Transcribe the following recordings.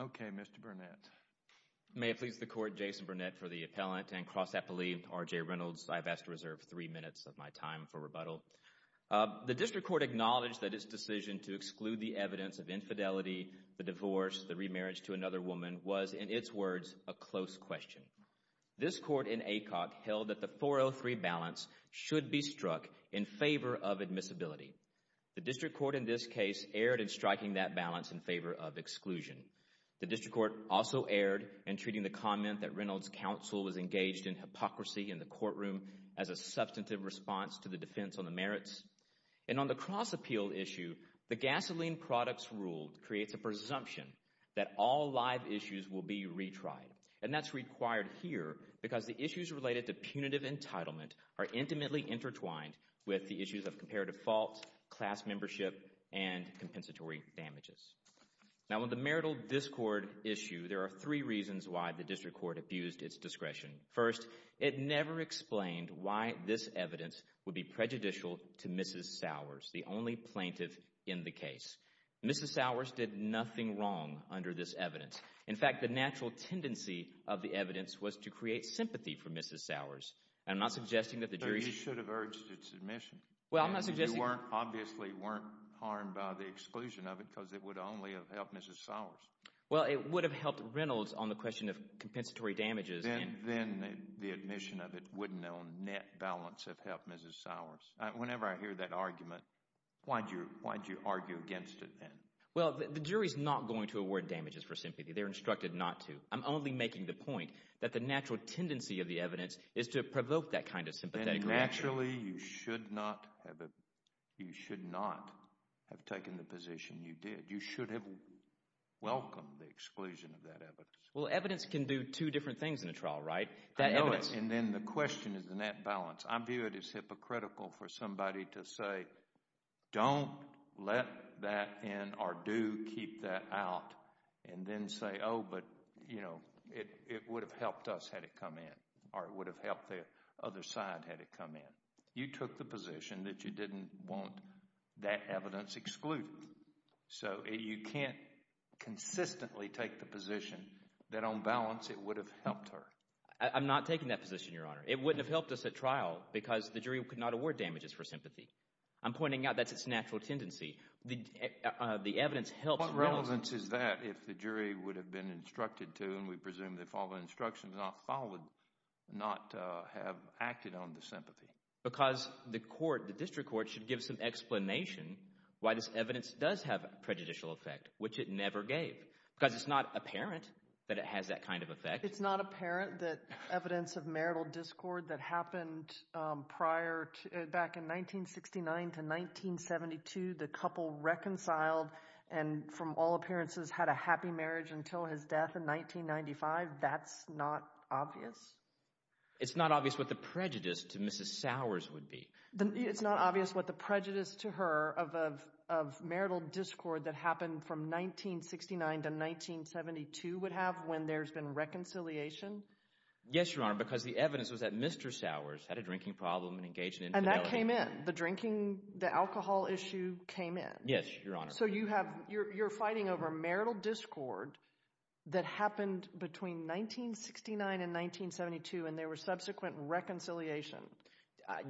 Okay, Mr. Burnett. May it please the Court, Jason Burnett for the Appellant and Cross Appellee, R.J. Reynolds. I've asked to reserve three minutes of my time for rebuttal. The District Court acknowledged that its decision to exclude the evidence of infidelity, the divorce, the remarriage to another woman was, in its words, a close question. This Court in ACOC held that the 403 balance should be struck in favor of admissibility. The District Court in this case erred in striking that balance in favor of exclusion. The District Court also erred in treating the comment that Reynolds' counsel was engaged in hypocrisy in the courtroom as a substantive response to the defense on the merits. And on the Cross Appeal issue, the gasoline products ruled creates a presumption that all live issues will be retried. And that's required here because the issues related to punitive entitlement are intimately intertwined with the issues of comparative fault, class membership, and compensatory damages. Now, on the marital discord issue, there are three reasons why the District Court abused its discretion. First, it never explained why this evidence would be prejudicial to Mrs. Sowers, the only plaintiff in the case. Mrs. Sowers did nothing wrong under this evidence. In fact, the natural tendency of the evidence was to create sympathy for Mrs. Sowers. And I'm not suggesting that the jury should have urged its admission. Well, I'm not suggesting... You obviously weren't harmed by the exclusion of it because it would only have helped Mrs. Sowers. Well, it would have helped Reynolds on the question of compensatory damages. Then the admission of it wouldn't have, on net balance, have helped Mrs. Sowers. Whenever I hear that argument, why'd you argue against it then? Well, the jury's not going to award damages for sympathy. They're instructed not to. I'm only making the point that the natural tendency of the evidence is to provoke that kind of sympathetic reaction. And naturally, you should not have taken the position you did. You should have welcomed the exclusion of that evidence. Well, evidence can do two different things in a trial, right? I know it. And then the question is the net balance. I view it as hypocritical for somebody to say, don't let that in or do keep that out and then say, oh, but, you know, it would have helped us had it come in or it would have helped the other side had it come in. You took the position that you didn't want that evidence excluded. So you can't consistently take the position that, on balance, it would have helped her. I'm not taking that position, Your Honor. It wouldn't have helped us at trial because the jury could not award damages for sympathy. I'm pointing out that's its natural tendency. The evidence helps Reynolds. Well, what evidence is that if the jury would have been instructed to, and we presume they followed instructions not followed, not have acted on the sympathy? Because the court, the district court, should give some explanation why this evidence does have a prejudicial effect, which it never gave, because it's not apparent that it has that kind of effect. It's not apparent that evidence of marital discord that happened prior, back in 1969 to 1972, the couple reconciled and, from all appearances, had a happy marriage until his death in 1995, that's not obvious? It's not obvious what the prejudice to Mrs. Sowers would be. It's not obvious what the prejudice to her of marital discord that happened from 1969 to 1972 would have when there's been reconciliation? Yes, Your Honor, because the evidence was that Mr. Sowers had a drinking problem and engaged in infidelity. And that came in. And the drinking, the alcohol issue came in. Yes, Your Honor. So you have, you're fighting over marital discord that happened between 1969 and 1972 and there was subsequent reconciliation.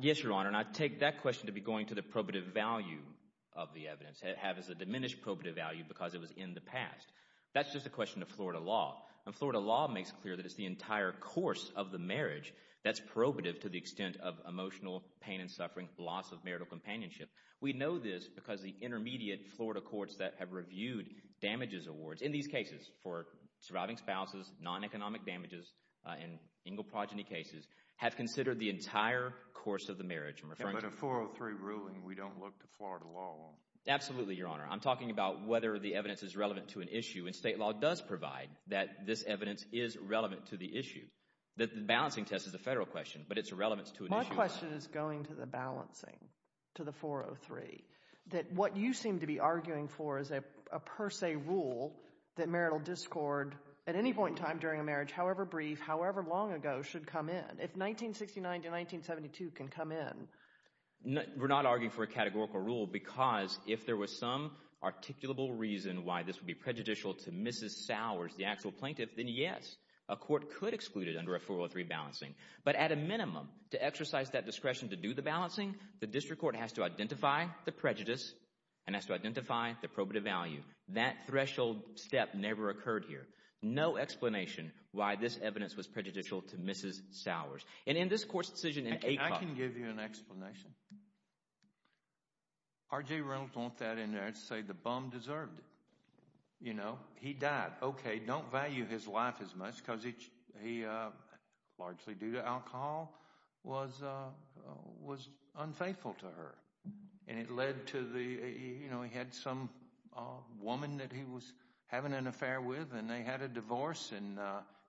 Yes, Your Honor, and I take that question to be going to the probative value of the evidence. It has a diminished probative value because it was in the past. That's just a question of Florida law. And Florida law makes clear that it's the entire course of the marriage that's probative to the extent of emotional pain and suffering, loss of marital companionship. We know this because the intermediate Florida courts that have reviewed damages awards, in these cases, for surviving spouses, non-economic damages, in Engle progeny cases, have considered the entire course of the marriage. But in a 403 ruling, we don't look to Florida law. Absolutely, Your Honor. I'm talking about whether the evidence is relevant to an issue and state law does provide that this evidence is relevant to the issue. The balancing test is a federal question, but it's relevant to an issue of Florida. My question is going to the balancing, to the 403, that what you seem to be arguing for is a per se rule that marital discord, at any point in time during a marriage, however brief, however long ago, should come in. If 1969 to 1972 can come in. We're not arguing for a categorical rule because if there was some articulable reason why this would be prejudicial to Mrs. Sowers, the actual plaintiff, then yes, a court could exclude it under a 403 balancing. But at a minimum, to exercise that discretion to do the balancing, the district court has to identify the prejudice and has to identify the probative value. That threshold step never occurred here. No explanation why this evidence was prejudicial to Mrs. Sowers. And in this court's decision in AACOP- I can give you an explanation. R.J. Reynolds want that in there to say the bum deserved it. You know? He died. Okay, don't value his life as much because he, largely due to alcohol, was unfaithful to her. And it led to the, you know, he had some woman that he was having an affair with and they had a divorce and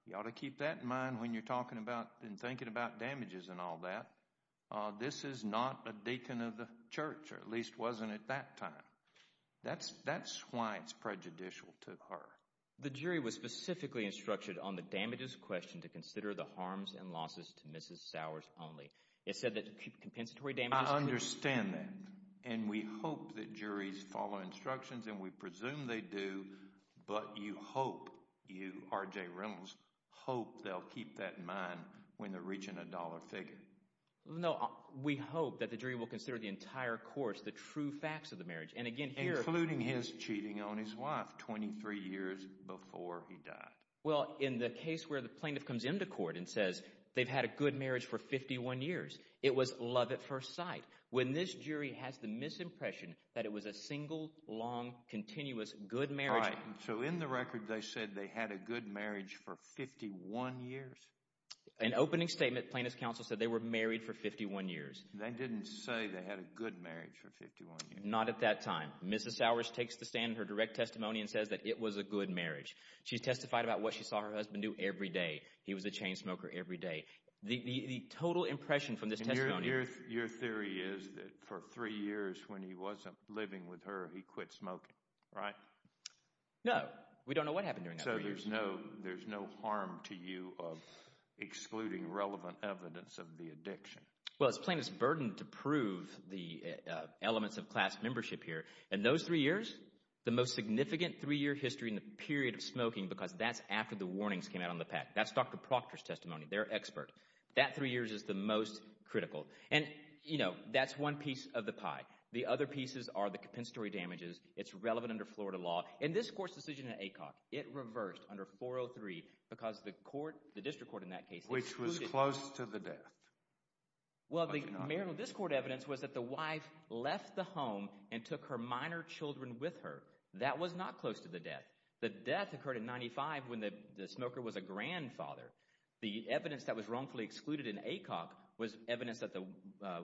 you ought to keep that in mind when you're talking about and thinking about damages and all that. This is not a deacon of the church, or at least wasn't at that time. That's why it's prejudicial to her. The jury was specifically instructed on the damages question to consider the harms and losses to Mrs. Sowers only. It said that compensatory damages- I understand that. And we hope that juries follow instructions and we presume they do, but you hope, you, R.J. Reynolds, hope they'll keep that in mind when they're reaching a dollar figure. No, we hope that the jury will consider the entire course, the true facts of the marriage, including his cheating on his wife 23 years before he died. Well, in the case where the plaintiff comes into court and says they've had a good marriage for 51 years, it was love at first sight. When this jury has the misimpression that it was a single, long, continuous, good marriage- Right, so in the record they said they had a good marriage for 51 years? An opening statement, plaintiff's counsel said they were married for 51 years. They didn't say they had a good marriage for 51 years. Not at that time. Mrs. Sowers takes the stand in her direct testimony and says that it was a good marriage. She's testified about what she saw her husband do every day. He was a chain smoker every day. The total impression from this testimony- And your theory is that for three years when he wasn't living with her, he quit smoking, right? No. We don't know what happened during that three years. So there's no, there's no harm to you of excluding relevant evidence of the addiction? Well, it's plaintiff's burden to prove the elements of class membership here. In those three years, the most significant three-year history in the period of smoking because that's after the warnings came out on the pack. That's Dr. Proctor's testimony, their expert. That three years is the most critical. And you know, that's one piece of the pie. The other pieces are the compensatory damages. It's relevant under Florida law. In this court's decision in Aycock, it reversed under 403 because the court, the district court in that case- Which was close to the death. Well, the marital discord evidence was that the wife left the home and took her minor children with her. That was not close to the death. The death occurred in 95 when the smoker was a grandfather. The evidence that was wrongfully excluded in Aycock was evidence that the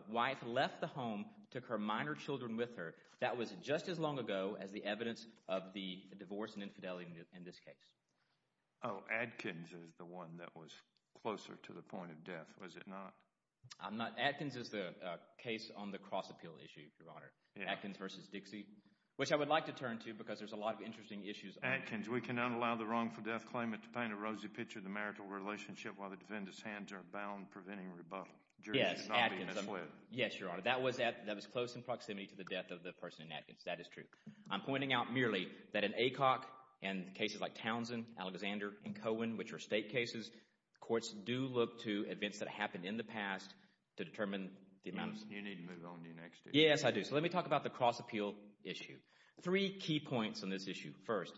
wife left the home, took her minor children with her. That was just as long ago as the evidence of the divorce and infidelity in this case. Oh, Adkins is the one that was closer to the point of death, was it not? I'm not- Adkins is the case on the cross-appeal issue, Your Honor. Adkins versus Dixie, which I would like to turn to because there's a lot of interesting issues- Adkins. We cannot allow the wrongful death claimant to paint a rosy picture of the marital relationship while the defendant's hands are bound, preventing rebuttal. Yes, Adkins. Yes, Your Honor. That was close in proximity to the death of the person in Adkins. That is true. I'm pointing out merely that in Aycock and cases like Townsend, Alexander, and Cohen, which are state cases, courts do look to events that happened in the past to determine the amount of- You need to move on to the next issue. Yes, I do. So let me talk about the cross-appeal issue. Three key points on this issue. First,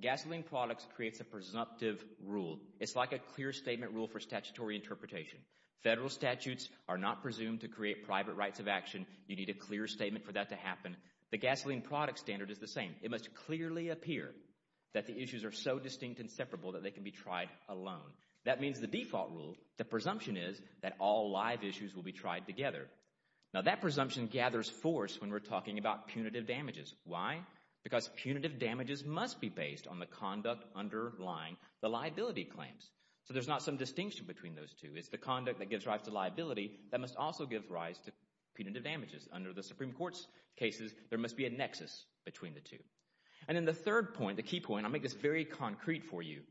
gasoline products creates a presumptive rule. It's like a clear statement rule for statutory interpretation. Federal statutes are not presumed to create private rights of action. You need a clear statement for that to happen. The gasoline product standard is the same. It must clearly appear that the issues are so distinct and separable that they can be tried alone. That means the default rule, the presumption is that all live issues will be tried together. Now that presumption gathers force when we're talking about punitive damages. Why? Because punitive damages must be based on the conduct underlying the liability claims. So there's not some distinction between those two. It's the conduct that gives rise to liability that must also give rise to punitive damages Under the Supreme Court's cases, there must be a nexus between the two. And then the third point, the key point, I'll make this very concrete for you.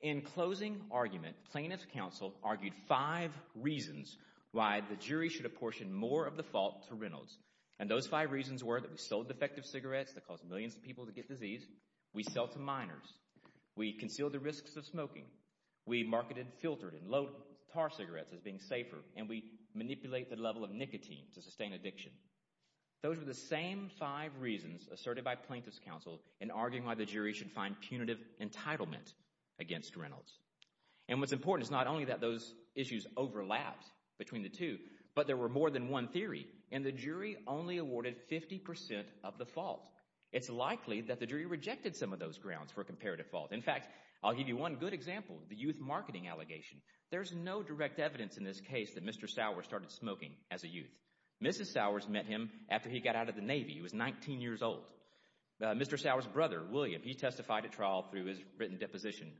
In closing argument, plaintiff's counsel argued five reasons why the jury should apportion more of the fault to Reynolds. And those five reasons were that we sold defective cigarettes that caused millions of people to get diseased. We sell to minors. We conceal the risks of smoking. We marketed filtered and low-tar cigarettes as being safer. And we manipulate the level of nicotine to sustain addiction. Those were the same five reasons asserted by plaintiff's counsel in arguing why the jury should find punitive entitlement against Reynolds. And what's important is not only that those issues overlapped between the two, but there were more than one theory, and the jury only awarded 50% of the fault. It's likely that the jury rejected some of those grounds for comparative fault. In fact, I'll give you one good example, the youth marketing allegation. There's no direct evidence in this case that Mr. Sowers started smoking as a youth. Mrs. Sowers met him after he got out of the Navy. He was 19 years old. Mr. Sowers' brother, William, he testified at trial through his written deposition,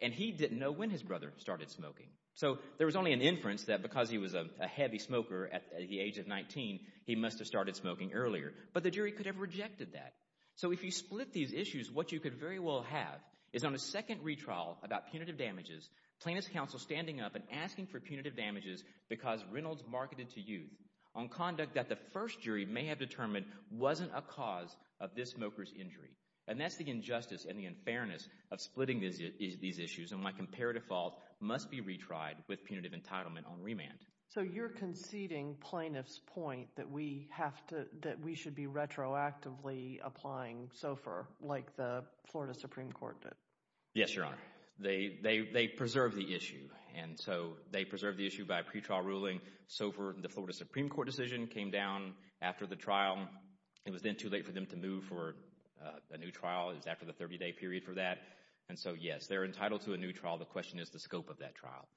and he didn't know when his brother started smoking. So there was only an inference that because he was a heavy smoker at the age of 19, he must have started smoking earlier. But the jury could have rejected that. So if you split these issues, what you could very well have is on a second retrial about punitive damages, plaintiff's counsel standing up and asking for punitive damages because Reynolds marketed to youth on conduct that the first jury may have determined wasn't a cause of this smoker's injury. And that's the injustice and the unfairness of splitting these issues, and my comparative fault must be retried with punitive entitlement on remand. So you're conceding plaintiff's point that we have to, that we should be retroactively applying SOFR like the Florida Supreme Court did? Yes, Your Honor. They, they, they preserved the issue. And so they preserved the issue by a pretrial ruling. SOFR, the Florida Supreme Court decision, came down after the trial. It was then too late for them to move for a new trial. It was after the 30-day period for that. And so, yes, they're entitled to a new trial. The question is the scope of that trial.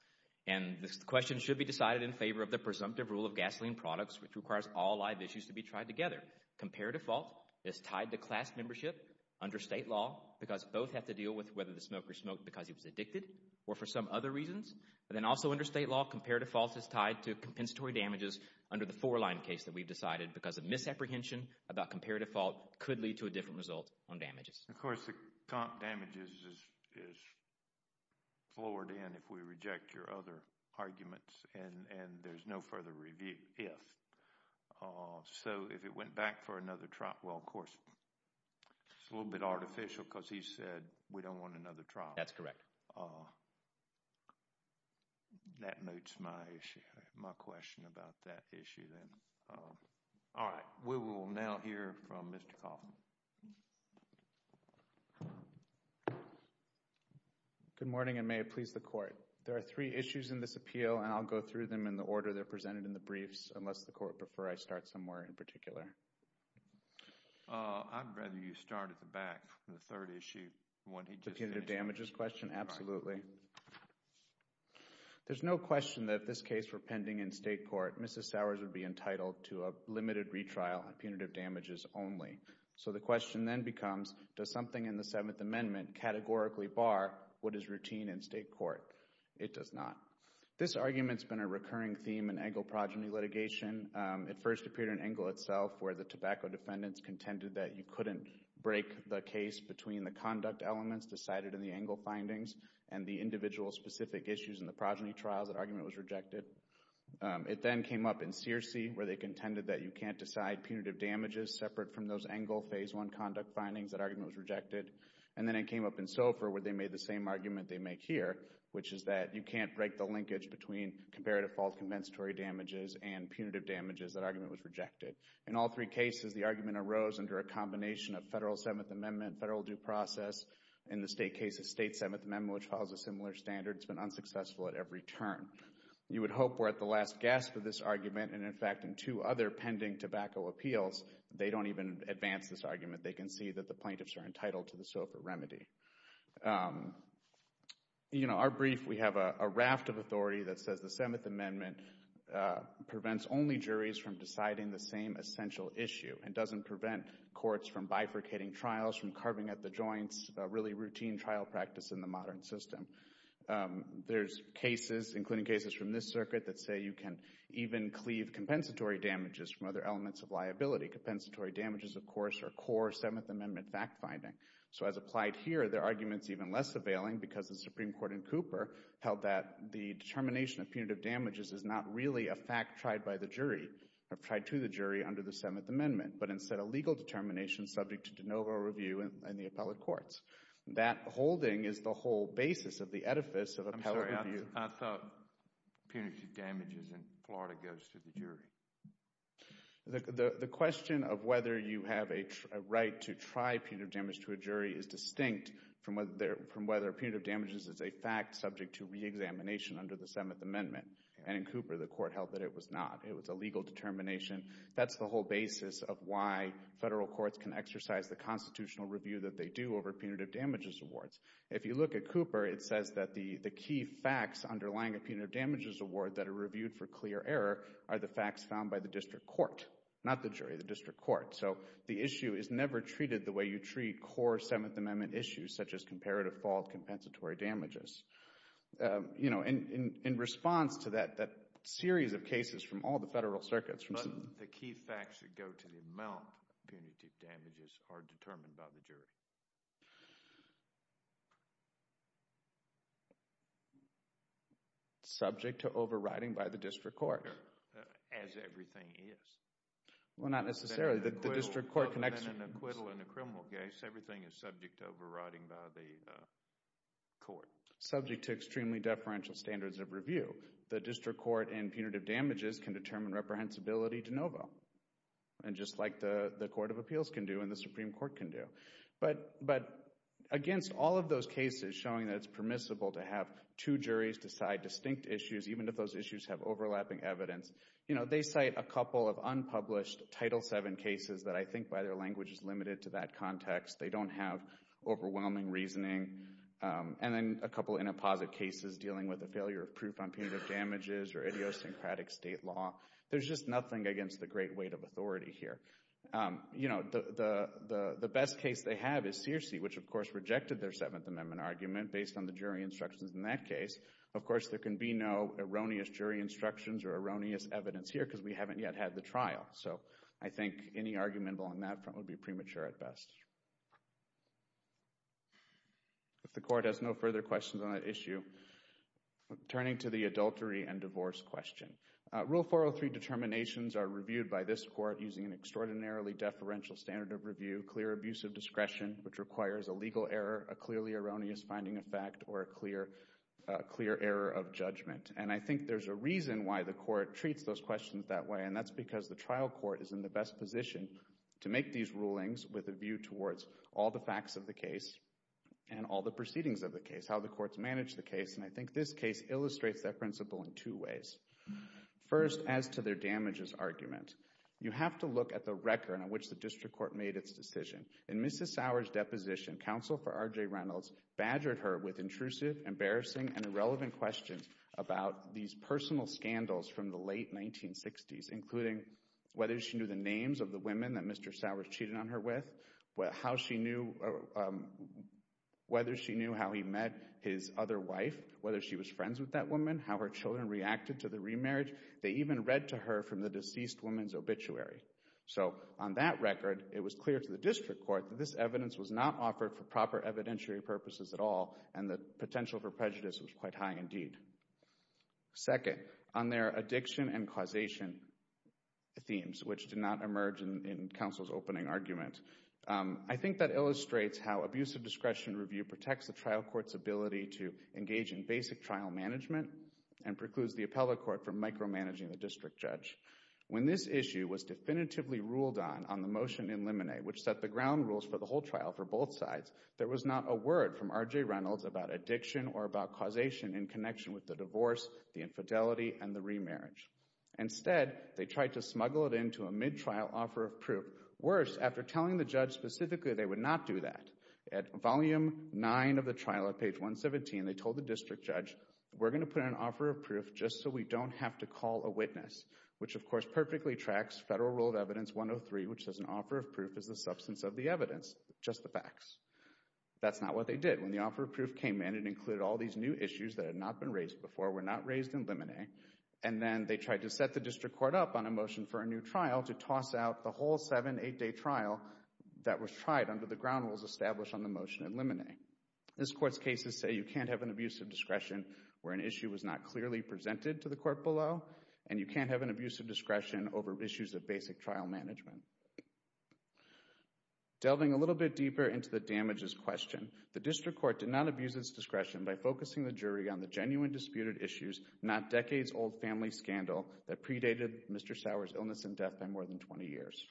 And this question should be decided in favor of the presumptive rule of gasoline products, which requires all live issues to be tried together. Comparative fault is tied to class membership under state law because both have to deal with whether the smoker smoked because he was addicted or for some other reasons. But then also under state law, comparative fault is tied to compensatory damages under the four-line case that we've decided because of misapprehension about comparative fault could lead to a different result on damages. Of course, the damages is, is lowered in if we reject your other arguments and, and there's no further review, if. So if it went back for another trial, well, of course, it's a little bit artificial because he said we don't want another trial. That's correct. That notes my issue, my question about that issue then. All right. We will now hear from Mr. Coffman. Good morning and may it please the court. There are three issues in this appeal and I'll go through them in the order they're presented in the briefs unless the court prefer I start somewhere in particular. I'd rather you start at the back. The third issue, the punitive damages question, absolutely. There's no question that if this case were pending in state court, Mrs. Sowers would be entitled to a limited retrial on punitive damages only. So the question then becomes, does something in the Seventh Amendment categorically bar what is routine in state court? It does not. This argument's been a recurring theme in Engle progeny litigation. It first appeared in Engle itself where the tobacco defendants contended that you couldn't break the case between the conduct elements decided in the Engle findings and the individual specific issues in the progeny trials, that argument was rejected. It then came up in Searcy where they contended that you can't decide punitive damages separate from those Engle phase one conduct findings, that argument was rejected. And then it came up in Sofer where they made the same argument they make here, which is that you can't break the linkage between comparative fault compensatory damages and punitive damages, that argument was rejected. In all three cases, the argument arose under a combination of federal Seventh Amendment, federal due process. In the state case of state Seventh Amendment, which follows a similar standard, it's been unsuccessful at every turn. You would hope we're at the last gasp of this argument, and in fact, in two other pending tobacco appeals, they don't even advance this argument. They can see that the plaintiffs are entitled to the Sofer remedy. You know, our brief, we have a raft of authority that says the Seventh Amendment prevents only the same essential issue and doesn't prevent courts from bifurcating trials, from carving at the joints, a really routine trial practice in the modern system. There's cases, including cases from this circuit, that say you can even cleave compensatory damages from other elements of liability. Compensatory damages, of course, are core Seventh Amendment fact finding. So as applied here, their argument's even less availing because the Supreme Court in Cooper held that the determination of punitive damages is not really a fact tried by the jury under the Seventh Amendment, but instead a legal determination subject to de novo review in the appellate courts. That holding is the whole basis of the edifice of appellate review. I'm sorry. I thought punitive damages in Florida goes to the jury. The question of whether you have a right to try punitive damage to a jury is distinct from whether punitive damages is a fact subject to reexamination under the Seventh Amendment, and in Cooper, the court held that it was not. It was a legal determination. That's the whole basis of why federal courts can exercise the constitutional review that they do over punitive damages awards. If you look at Cooper, it says that the key facts underlying a punitive damages award that are reviewed for clear error are the facts found by the district court, not the jury, the district court. So the issue is never treated the way you treat core Seventh Amendment issues, such as comparative fault compensatory damages. You know, in response to that, that series of cases from all the federal circuits. But the key facts that go to the amount of punitive damages are determined by the jury. Subject to overriding by the district court. As everything is. Well, not necessarily. The district court connection. But in an acquittal in a criminal case, everything is subject to overriding by the court. Subject to extremely deferential standards of review. The district court and punitive damages can determine reprehensibility de novo. And just like the Court of Appeals can do and the Supreme Court can do. But against all of those cases showing that it's permissible to have two juries decide distinct issues, even if those issues have overlapping evidence. You know, they cite a couple of unpublished Title VII cases that I think by their language is limited to that context. They don't have overwhelming reasoning. And then a couple of inapposite cases dealing with the failure of proof on punitive damages or idiosyncratic state law. There's just nothing against the great weight of authority here. You know, the best case they have is Searcy, which of course rejected their Seventh Amendment argument based on the jury instructions in that case. Of course, there can be no erroneous jury instructions or erroneous evidence here because we haven't yet had the trial. So I think any argument on that front would be premature at best. If the court has no further questions on that issue, turning to the adultery and divorce question. Rule 403 determinations are reviewed by this court using an extraordinarily deferential standard of review, clear abuse of discretion, which requires a legal error, a clearly erroneous finding of fact, or a clear error of judgment. And I think there's a reason why the court treats those questions that way, and that's because the trial court is in the best position to make these rulings with a view towards all the facts of the case and all the proceedings of the case, how the courts manage the case. And I think this case illustrates that principle in two ways. First, as to their damages argument. You have to look at the record on which the district court made its decision. In Mrs. Sowers' deposition, counsel for R.J. Reynolds badgered her with intrusive, embarrassing, and irrelevant questions about these personal scandals from the late 1960s, including whether she knew the names of the women that Mr. Sowers cheated on her with, whether she knew how he met his other wife, whether she was friends with that woman, how her children reacted to the remarriage. They even read to her from the deceased woman's obituary. So on that record, it was clear to the district court that this evidence was not offered for proper evidentiary purposes at all, and the potential for prejudice was quite high indeed. Second, on their addiction and causation themes, which did not emerge in counsel's opening argument, I think that illustrates how abusive discretion review protects the trial court's ability to engage in basic trial management and precludes the appellate court from micromanaging the district judge. When this issue was definitively ruled on on the motion in limine, which set the ground rules for the whole trial for both sides, there was not a word from R.J. Reynolds about addiction or about causation in connection with the divorce, the infidelity, and the remarriage. Instead, they tried to smuggle it into a mid-trial offer of proof. Worse, after telling the judge specifically they would not do that, at volume 9 of the trial at page 117, they told the district judge, we're going to put an offer of proof just so we don't have to call a witness, which of course perfectly tracks Federal Rule of Evidence 103, which says an offer of proof is the substance of the evidence, just the facts. That's not what they did. When the offer of proof came in, it included all these new issues that had not been raised before, were not raised in limine, and then they tried to set the district court up on a motion for a new trial to toss out the whole seven, eight-day trial that was tried under the ground rules established on the motion in limine. This court's cases say you can't have an abusive discretion where an issue was not clearly presented to the court below, and you can't have an abusive discretion over issues of basic trial management. Delving a little bit deeper into the damages question, the district court did not abuse its discretion by focusing the jury on the genuine disputed issues, not decades-old family scandal, that predated Mr. Sauer's illness and death by more than 20 years.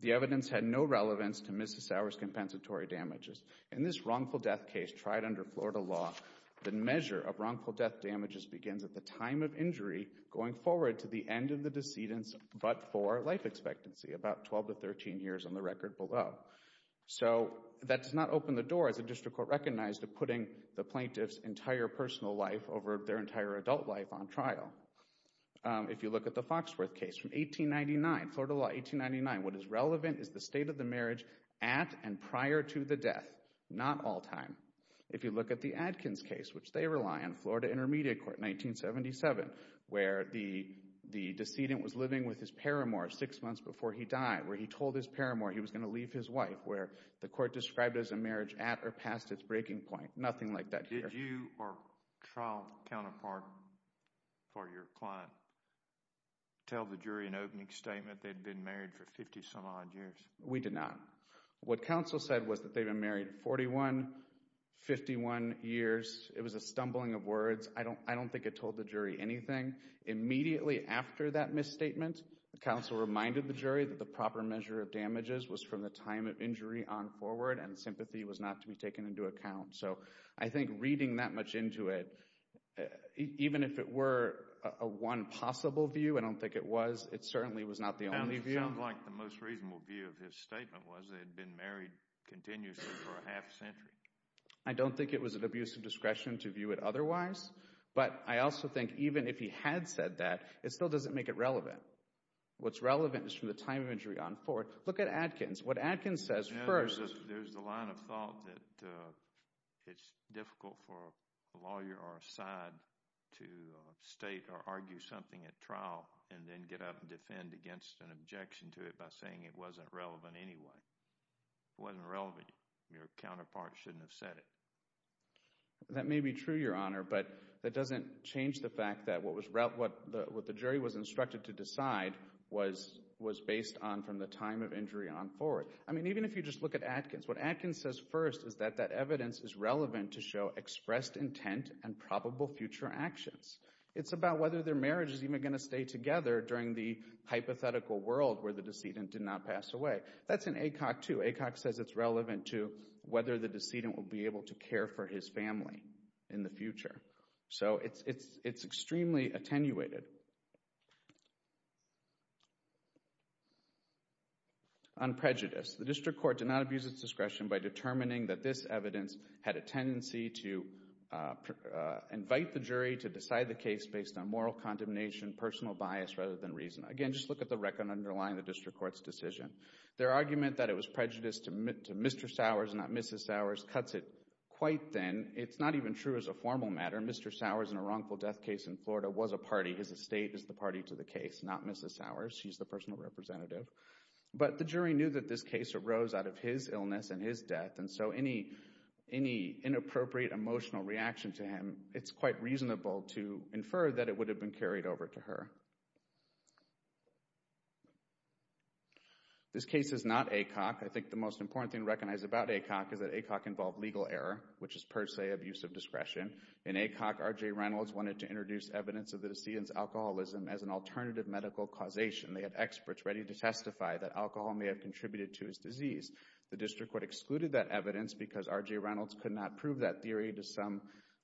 The evidence had no relevance to Mrs. Sauer's compensatory damages. In this wrongful death case tried under Florida law, the measure of wrongful death damages begins at the time of injury going forward to the end of the decedent's but-for life expectancy, about 12 to 13 years on the record below. So that does not open the door, as the district court recognized, of putting the plaintiff's entire personal life over their entire adult life on trial. If you look at the Foxworth case from 1899, Florida law 1899, what is relevant is the state of the marriage at and prior to the death, not all time. If you look at the Adkins case, which they rely on, Florida Intermediate Court, 1977, where the decedent was living with his paramour six months before he died, where he told his paramour he was going to leave his wife, where the court described it as a marriage at or past its breaking point. Nothing like that here. Did you or trial counterpart or your client tell the jury in opening statement they'd been married for 50-some-odd years? We did not. What counsel said was that they'd been married 41, 51 years. It was a stumbling of words. I don't think it told the jury anything. Immediately after that misstatement, counsel reminded the jury that the proper measure of damages was from the time of injury on forward and sympathy was not to be taken into account. So I think reading that much into it, even if it were a one possible view, I don't think it was, it certainly was not the only view. It sounds like the most reasonable view of his statement was they'd been married continuously for a half century. I don't think it was an abuse of discretion to view it otherwise, but I also think even if he had said that, it still doesn't make it relevant. What's relevant is from the time of injury on forward. Look at Adkins. What Adkins says first— There's the line of thought that it's difficult for a lawyer or a side to state or argue something at trial and then get up and defend against an objection to it by saying it wasn't relevant anyway. It wasn't relevant. Your counterpart shouldn't have said it. That may be true, Your Honor, but that doesn't change the fact that what the jury was instructed to decide was based on from the time of injury on forward. I mean, even if you just look at Adkins, what Adkins says first is that that evidence is relevant to show expressed intent and probable future actions. It's about whether their marriage is even going to stay together during the hypothetical world where the decedent did not pass away. That's in Acock, too. Acock says it's relevant to whether the decedent will be able to care for his family in the future. So it's extremely attenuated. On prejudice, the district court did not abuse its discretion by determining that this evidence had a tendency to invite the jury to decide the case based on moral condemnation, personal bias rather than reason. Again, just look at the record underlying the district court's decision. Their argument that it was prejudice to Mr. Sowers and not Mrs. Sowers cuts it quite thin. It's not even true as a formal matter. Mr. Sowers, in a wrongful death case in Florida, was a party. His estate is the party to the case, not Mrs. Sowers. She's the personal representative. But the jury knew that this case arose out of his illness and his death, and so any inappropriate emotional reaction to him, it's quite reasonable to infer that it would have been carried over to her. This case is not Acock. I think the most important thing to recognize about Acock is that Acock involved legal error, which is per se abusive discretion. In Acock, R.J. Reynolds wanted to introduce evidence of the decedent's alcoholism as an alternative medical causation. They had experts ready to testify that alcohol may have contributed to his disease. The district court excluded that evidence because R.J. Reynolds could not prove that theory to some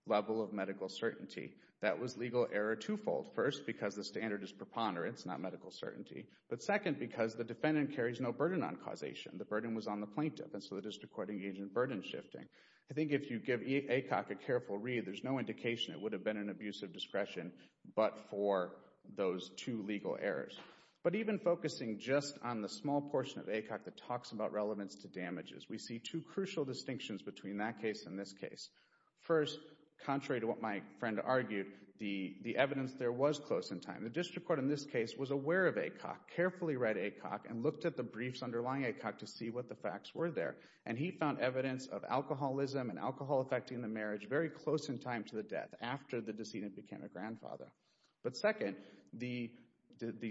level of medical certainty. That was legal error twofold. First, because the standard is preponderance, not medical certainty. But second, because the defendant carries no burden on causation. The burden was on the plaintiff, and so the district court engaged in burden shifting. I think if you give Acock a careful read, there's no indication it would have been an abusive discretion but for those two legal errors. But even focusing just on the small portion of Acock that talks about relevance to damages, we see two crucial distinctions between that case and this case. First, contrary to what my friend argued, the evidence there was close in time. The district court in this case was aware of Acock, carefully read Acock, and looked at the briefs underlying Acock to see what the facts were there. And he found evidence of alcoholism and alcohol affecting the marriage very close in time to the death, after the decedent became a grandfather. But second, the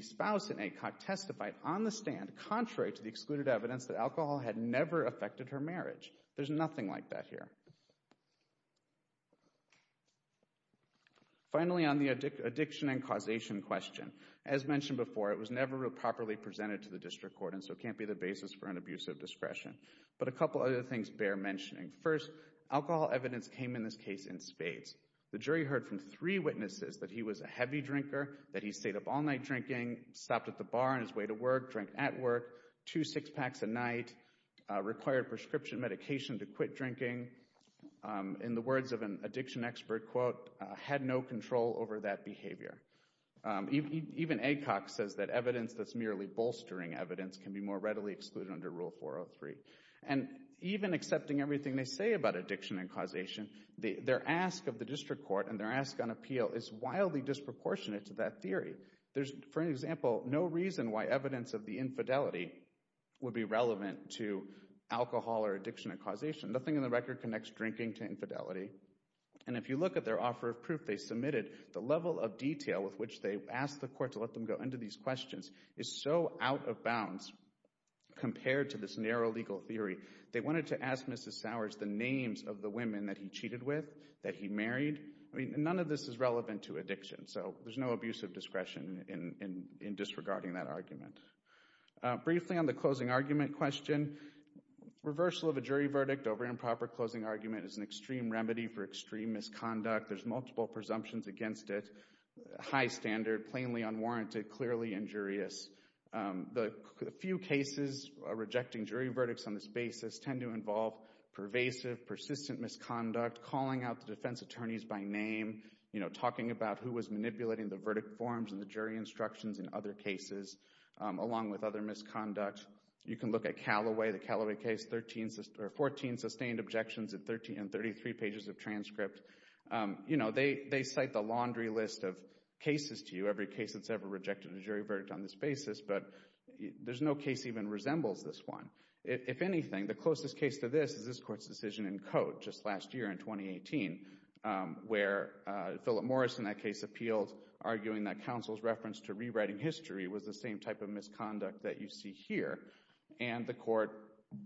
spouse in Acock testified on the stand, contrary to the excluded evidence, that alcohol had never affected her marriage. There's nothing like that here. Finally, on the addiction and causation question, as mentioned before, it was never properly presented to the district court, and so it can't be the basis for an abusive discretion. But a couple other things bear mentioning. First, alcohol evidence came in this case in spades. The jury heard from three witnesses that he was a heavy drinker, that he stayed up all night drinking, stopped at the bar on his way to work, drank at work, two six-packs a night, required prescription medication to quit drinking. In the words of an addiction expert, quote, had no control over that behavior. Even Acock says that evidence that's merely bolstering evidence can be more readily excluded under Rule 403. And even accepting everything they say about addiction and causation, their ask of the district court and their ask on appeal is wildly disproportionate to that theory. There's, for example, no reason why evidence of the infidelity would be relevant to alcohol or addiction and causation. Nothing in the record connects drinking to infidelity. And if you look at their offer of proof they submitted, the level of detail with which they asked the court to let them go into these questions is so out of bounds compared to this narrow legal theory. They wanted to ask Mrs. Sowers the names of the women that he cheated with, that he married. I mean, none of this is relevant to addiction, so there's no abuse of discretion in disregarding that argument. Briefly on the closing argument question, reversal of a jury verdict over improper closing argument is an extreme remedy for extreme misconduct. There's multiple presumptions against it. High standard, plainly unwarranted, clearly injurious. The few cases rejecting jury verdicts on this basis tend to involve pervasive, persistent misconduct, calling out the defense attorneys by name, talking about who was manipulating the verdict forms and the jury instructions in other cases, along with other misconduct. You can look at Callaway, the Callaway case, 14 sustained objections and 33 pages of transcript. They cite the laundry list of cases to you, every case that's ever rejected a jury verdict on this basis, but there's no case that even resembles this one. If anything, the closest case to this is this court's decision in code just last year in 2018 where Philip Morris in that case appealed arguing that counsel's reference to rewriting history was the same type of misconduct that you see here. And the court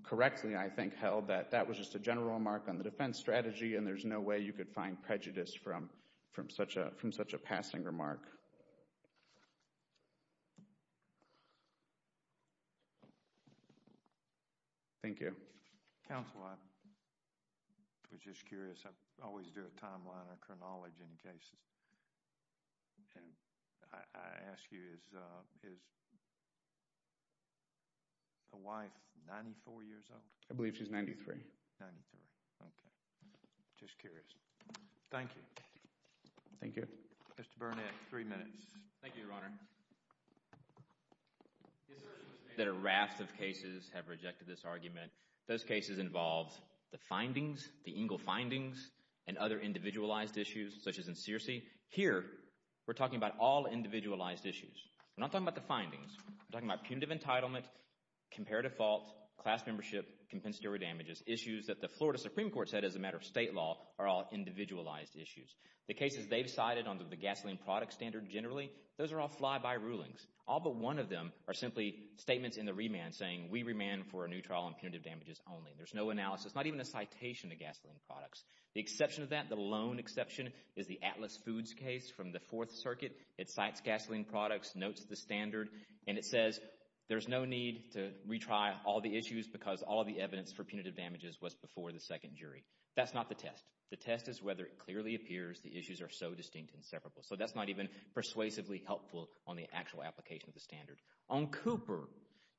correctly, I think, held that that was just a general remark on the defense strategy and there's no way you could find prejudice from such a passing remark. Thank you. Counsel, I was just curious. I always do a timeline or acknowledge any cases. I ask you, is the wife 94 years old? I believe she's 93. 93, okay. Just curious. Thank you. Thank you. Mr. Burnett, three minutes. Thank you, Your Honor. The assertions that a raft of cases have rejected this argument, those cases involve the findings, the Engel findings, and other individualized issues such as inserci. Here, we're talking about all individualized issues. We're not talking about the findings. We're talking about punitive entitlement, comparative fault, class membership, compensatory damages, issues that the Florida Supreme Court said as a matter of state law are all individualized issues. The cases they've cited under the gasoline product standard generally, those are all fly-by rulings. All but one of them are simply statements in the remand saying, we remand for a new trial on punitive damages only. There's no analysis, not even a citation of gasoline products. The exception to that, the lone exception, is the Atlas Foods case from the Fourth Circuit. It cites gasoline products, notes the standard, and it says there's no need to retry all the issues because all the evidence for punitive damages was before the second jury. That's not the test. The test is whether it clearly appears the issues are so distinct and separable. So that's not even persuasively helpful on the actual application of the standard. On Cooper,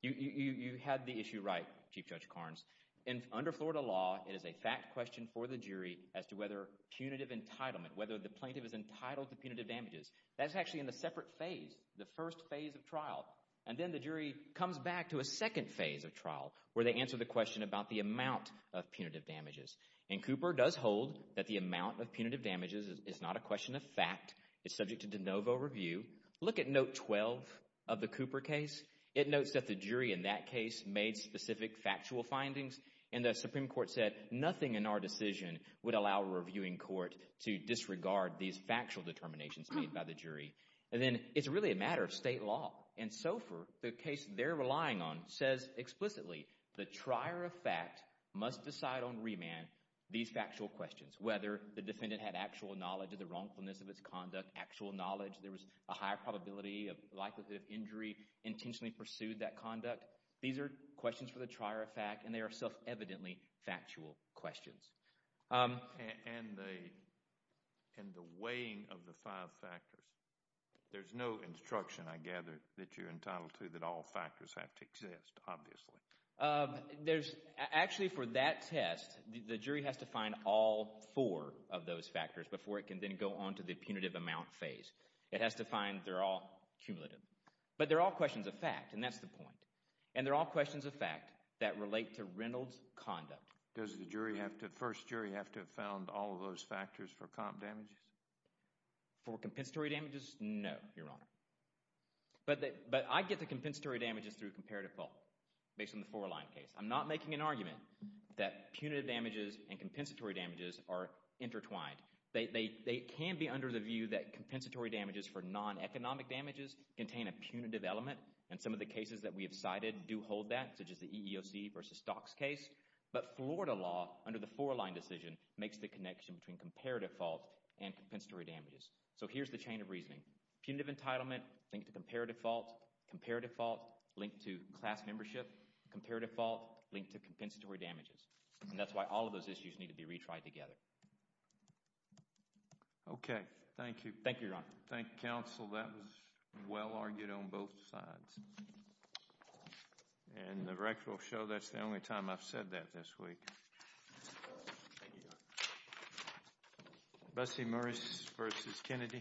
you had the issue right, Chief Judge Carnes. Under Florida law, it is a fact question for the jury as to whether punitive entitlement, whether the plaintiff is entitled to punitive damages, that's actually in a separate phase, the first phase of trial. And then the jury comes back to a second phase of trial where they answer the question about the amount of punitive damages. And Cooper does hold that the amount of punitive damages is not a question of fact. It's subject to de novo review. Look at Note 12 of the Cooper case. It notes that the jury in that case made specific factual findings. And the Supreme Court said nothing in our decision would allow a reviewing court to disregard these factual determinations made by the jury. And then it's really a matter of state law. And SOFR, the case they're relying on, says explicitly the trier of fact must decide on remand these factual questions, whether the defendant had actual knowledge of the wrongfulness of its conduct, actual knowledge there was a higher probability of likelihood of injury, intentionally pursued that conduct. These are questions for the trier of fact, and they are self-evidently factual questions. And the weighing of the five factors. There's no instruction, I gather, that you're entitled to that all factors have to exist, obviously. Actually, for that test, the jury has to find all four of those factors before it can then go on to the punitive amount phase. It has to find they're all cumulative. But they're all questions of fact, and that's the point. And they're all questions of fact that relate to Reynolds' conduct. Does the first jury have to have found all of those factors for comp damages? For compensatory damages, no, Your Honor. But I get the compensatory damages through comparative fault based on the four-line case. I'm not making an argument that punitive damages and compensatory damages are intertwined. They can be under the view that compensatory damages for non-economic damages contain a punitive element, and some of the cases that we have cited do hold that, such as the EEOC versus Dock's case. But Florida law, under the four-line decision, makes the connection between comparative fault and compensatory damages. So here's the chain of reasoning. Punitive entitlement linked to comparative fault. Comparative fault linked to class membership. Comparative fault linked to compensatory damages. And that's why all of those issues need to be retried together. Okay, thank you. Thank you, Your Honor. Thank you, counsel. That was well-argued on both sides. And the record will show that's the only time I've said that this week. Thank you, Your Honor. Bessie Morris versus Kennedy. Thank you.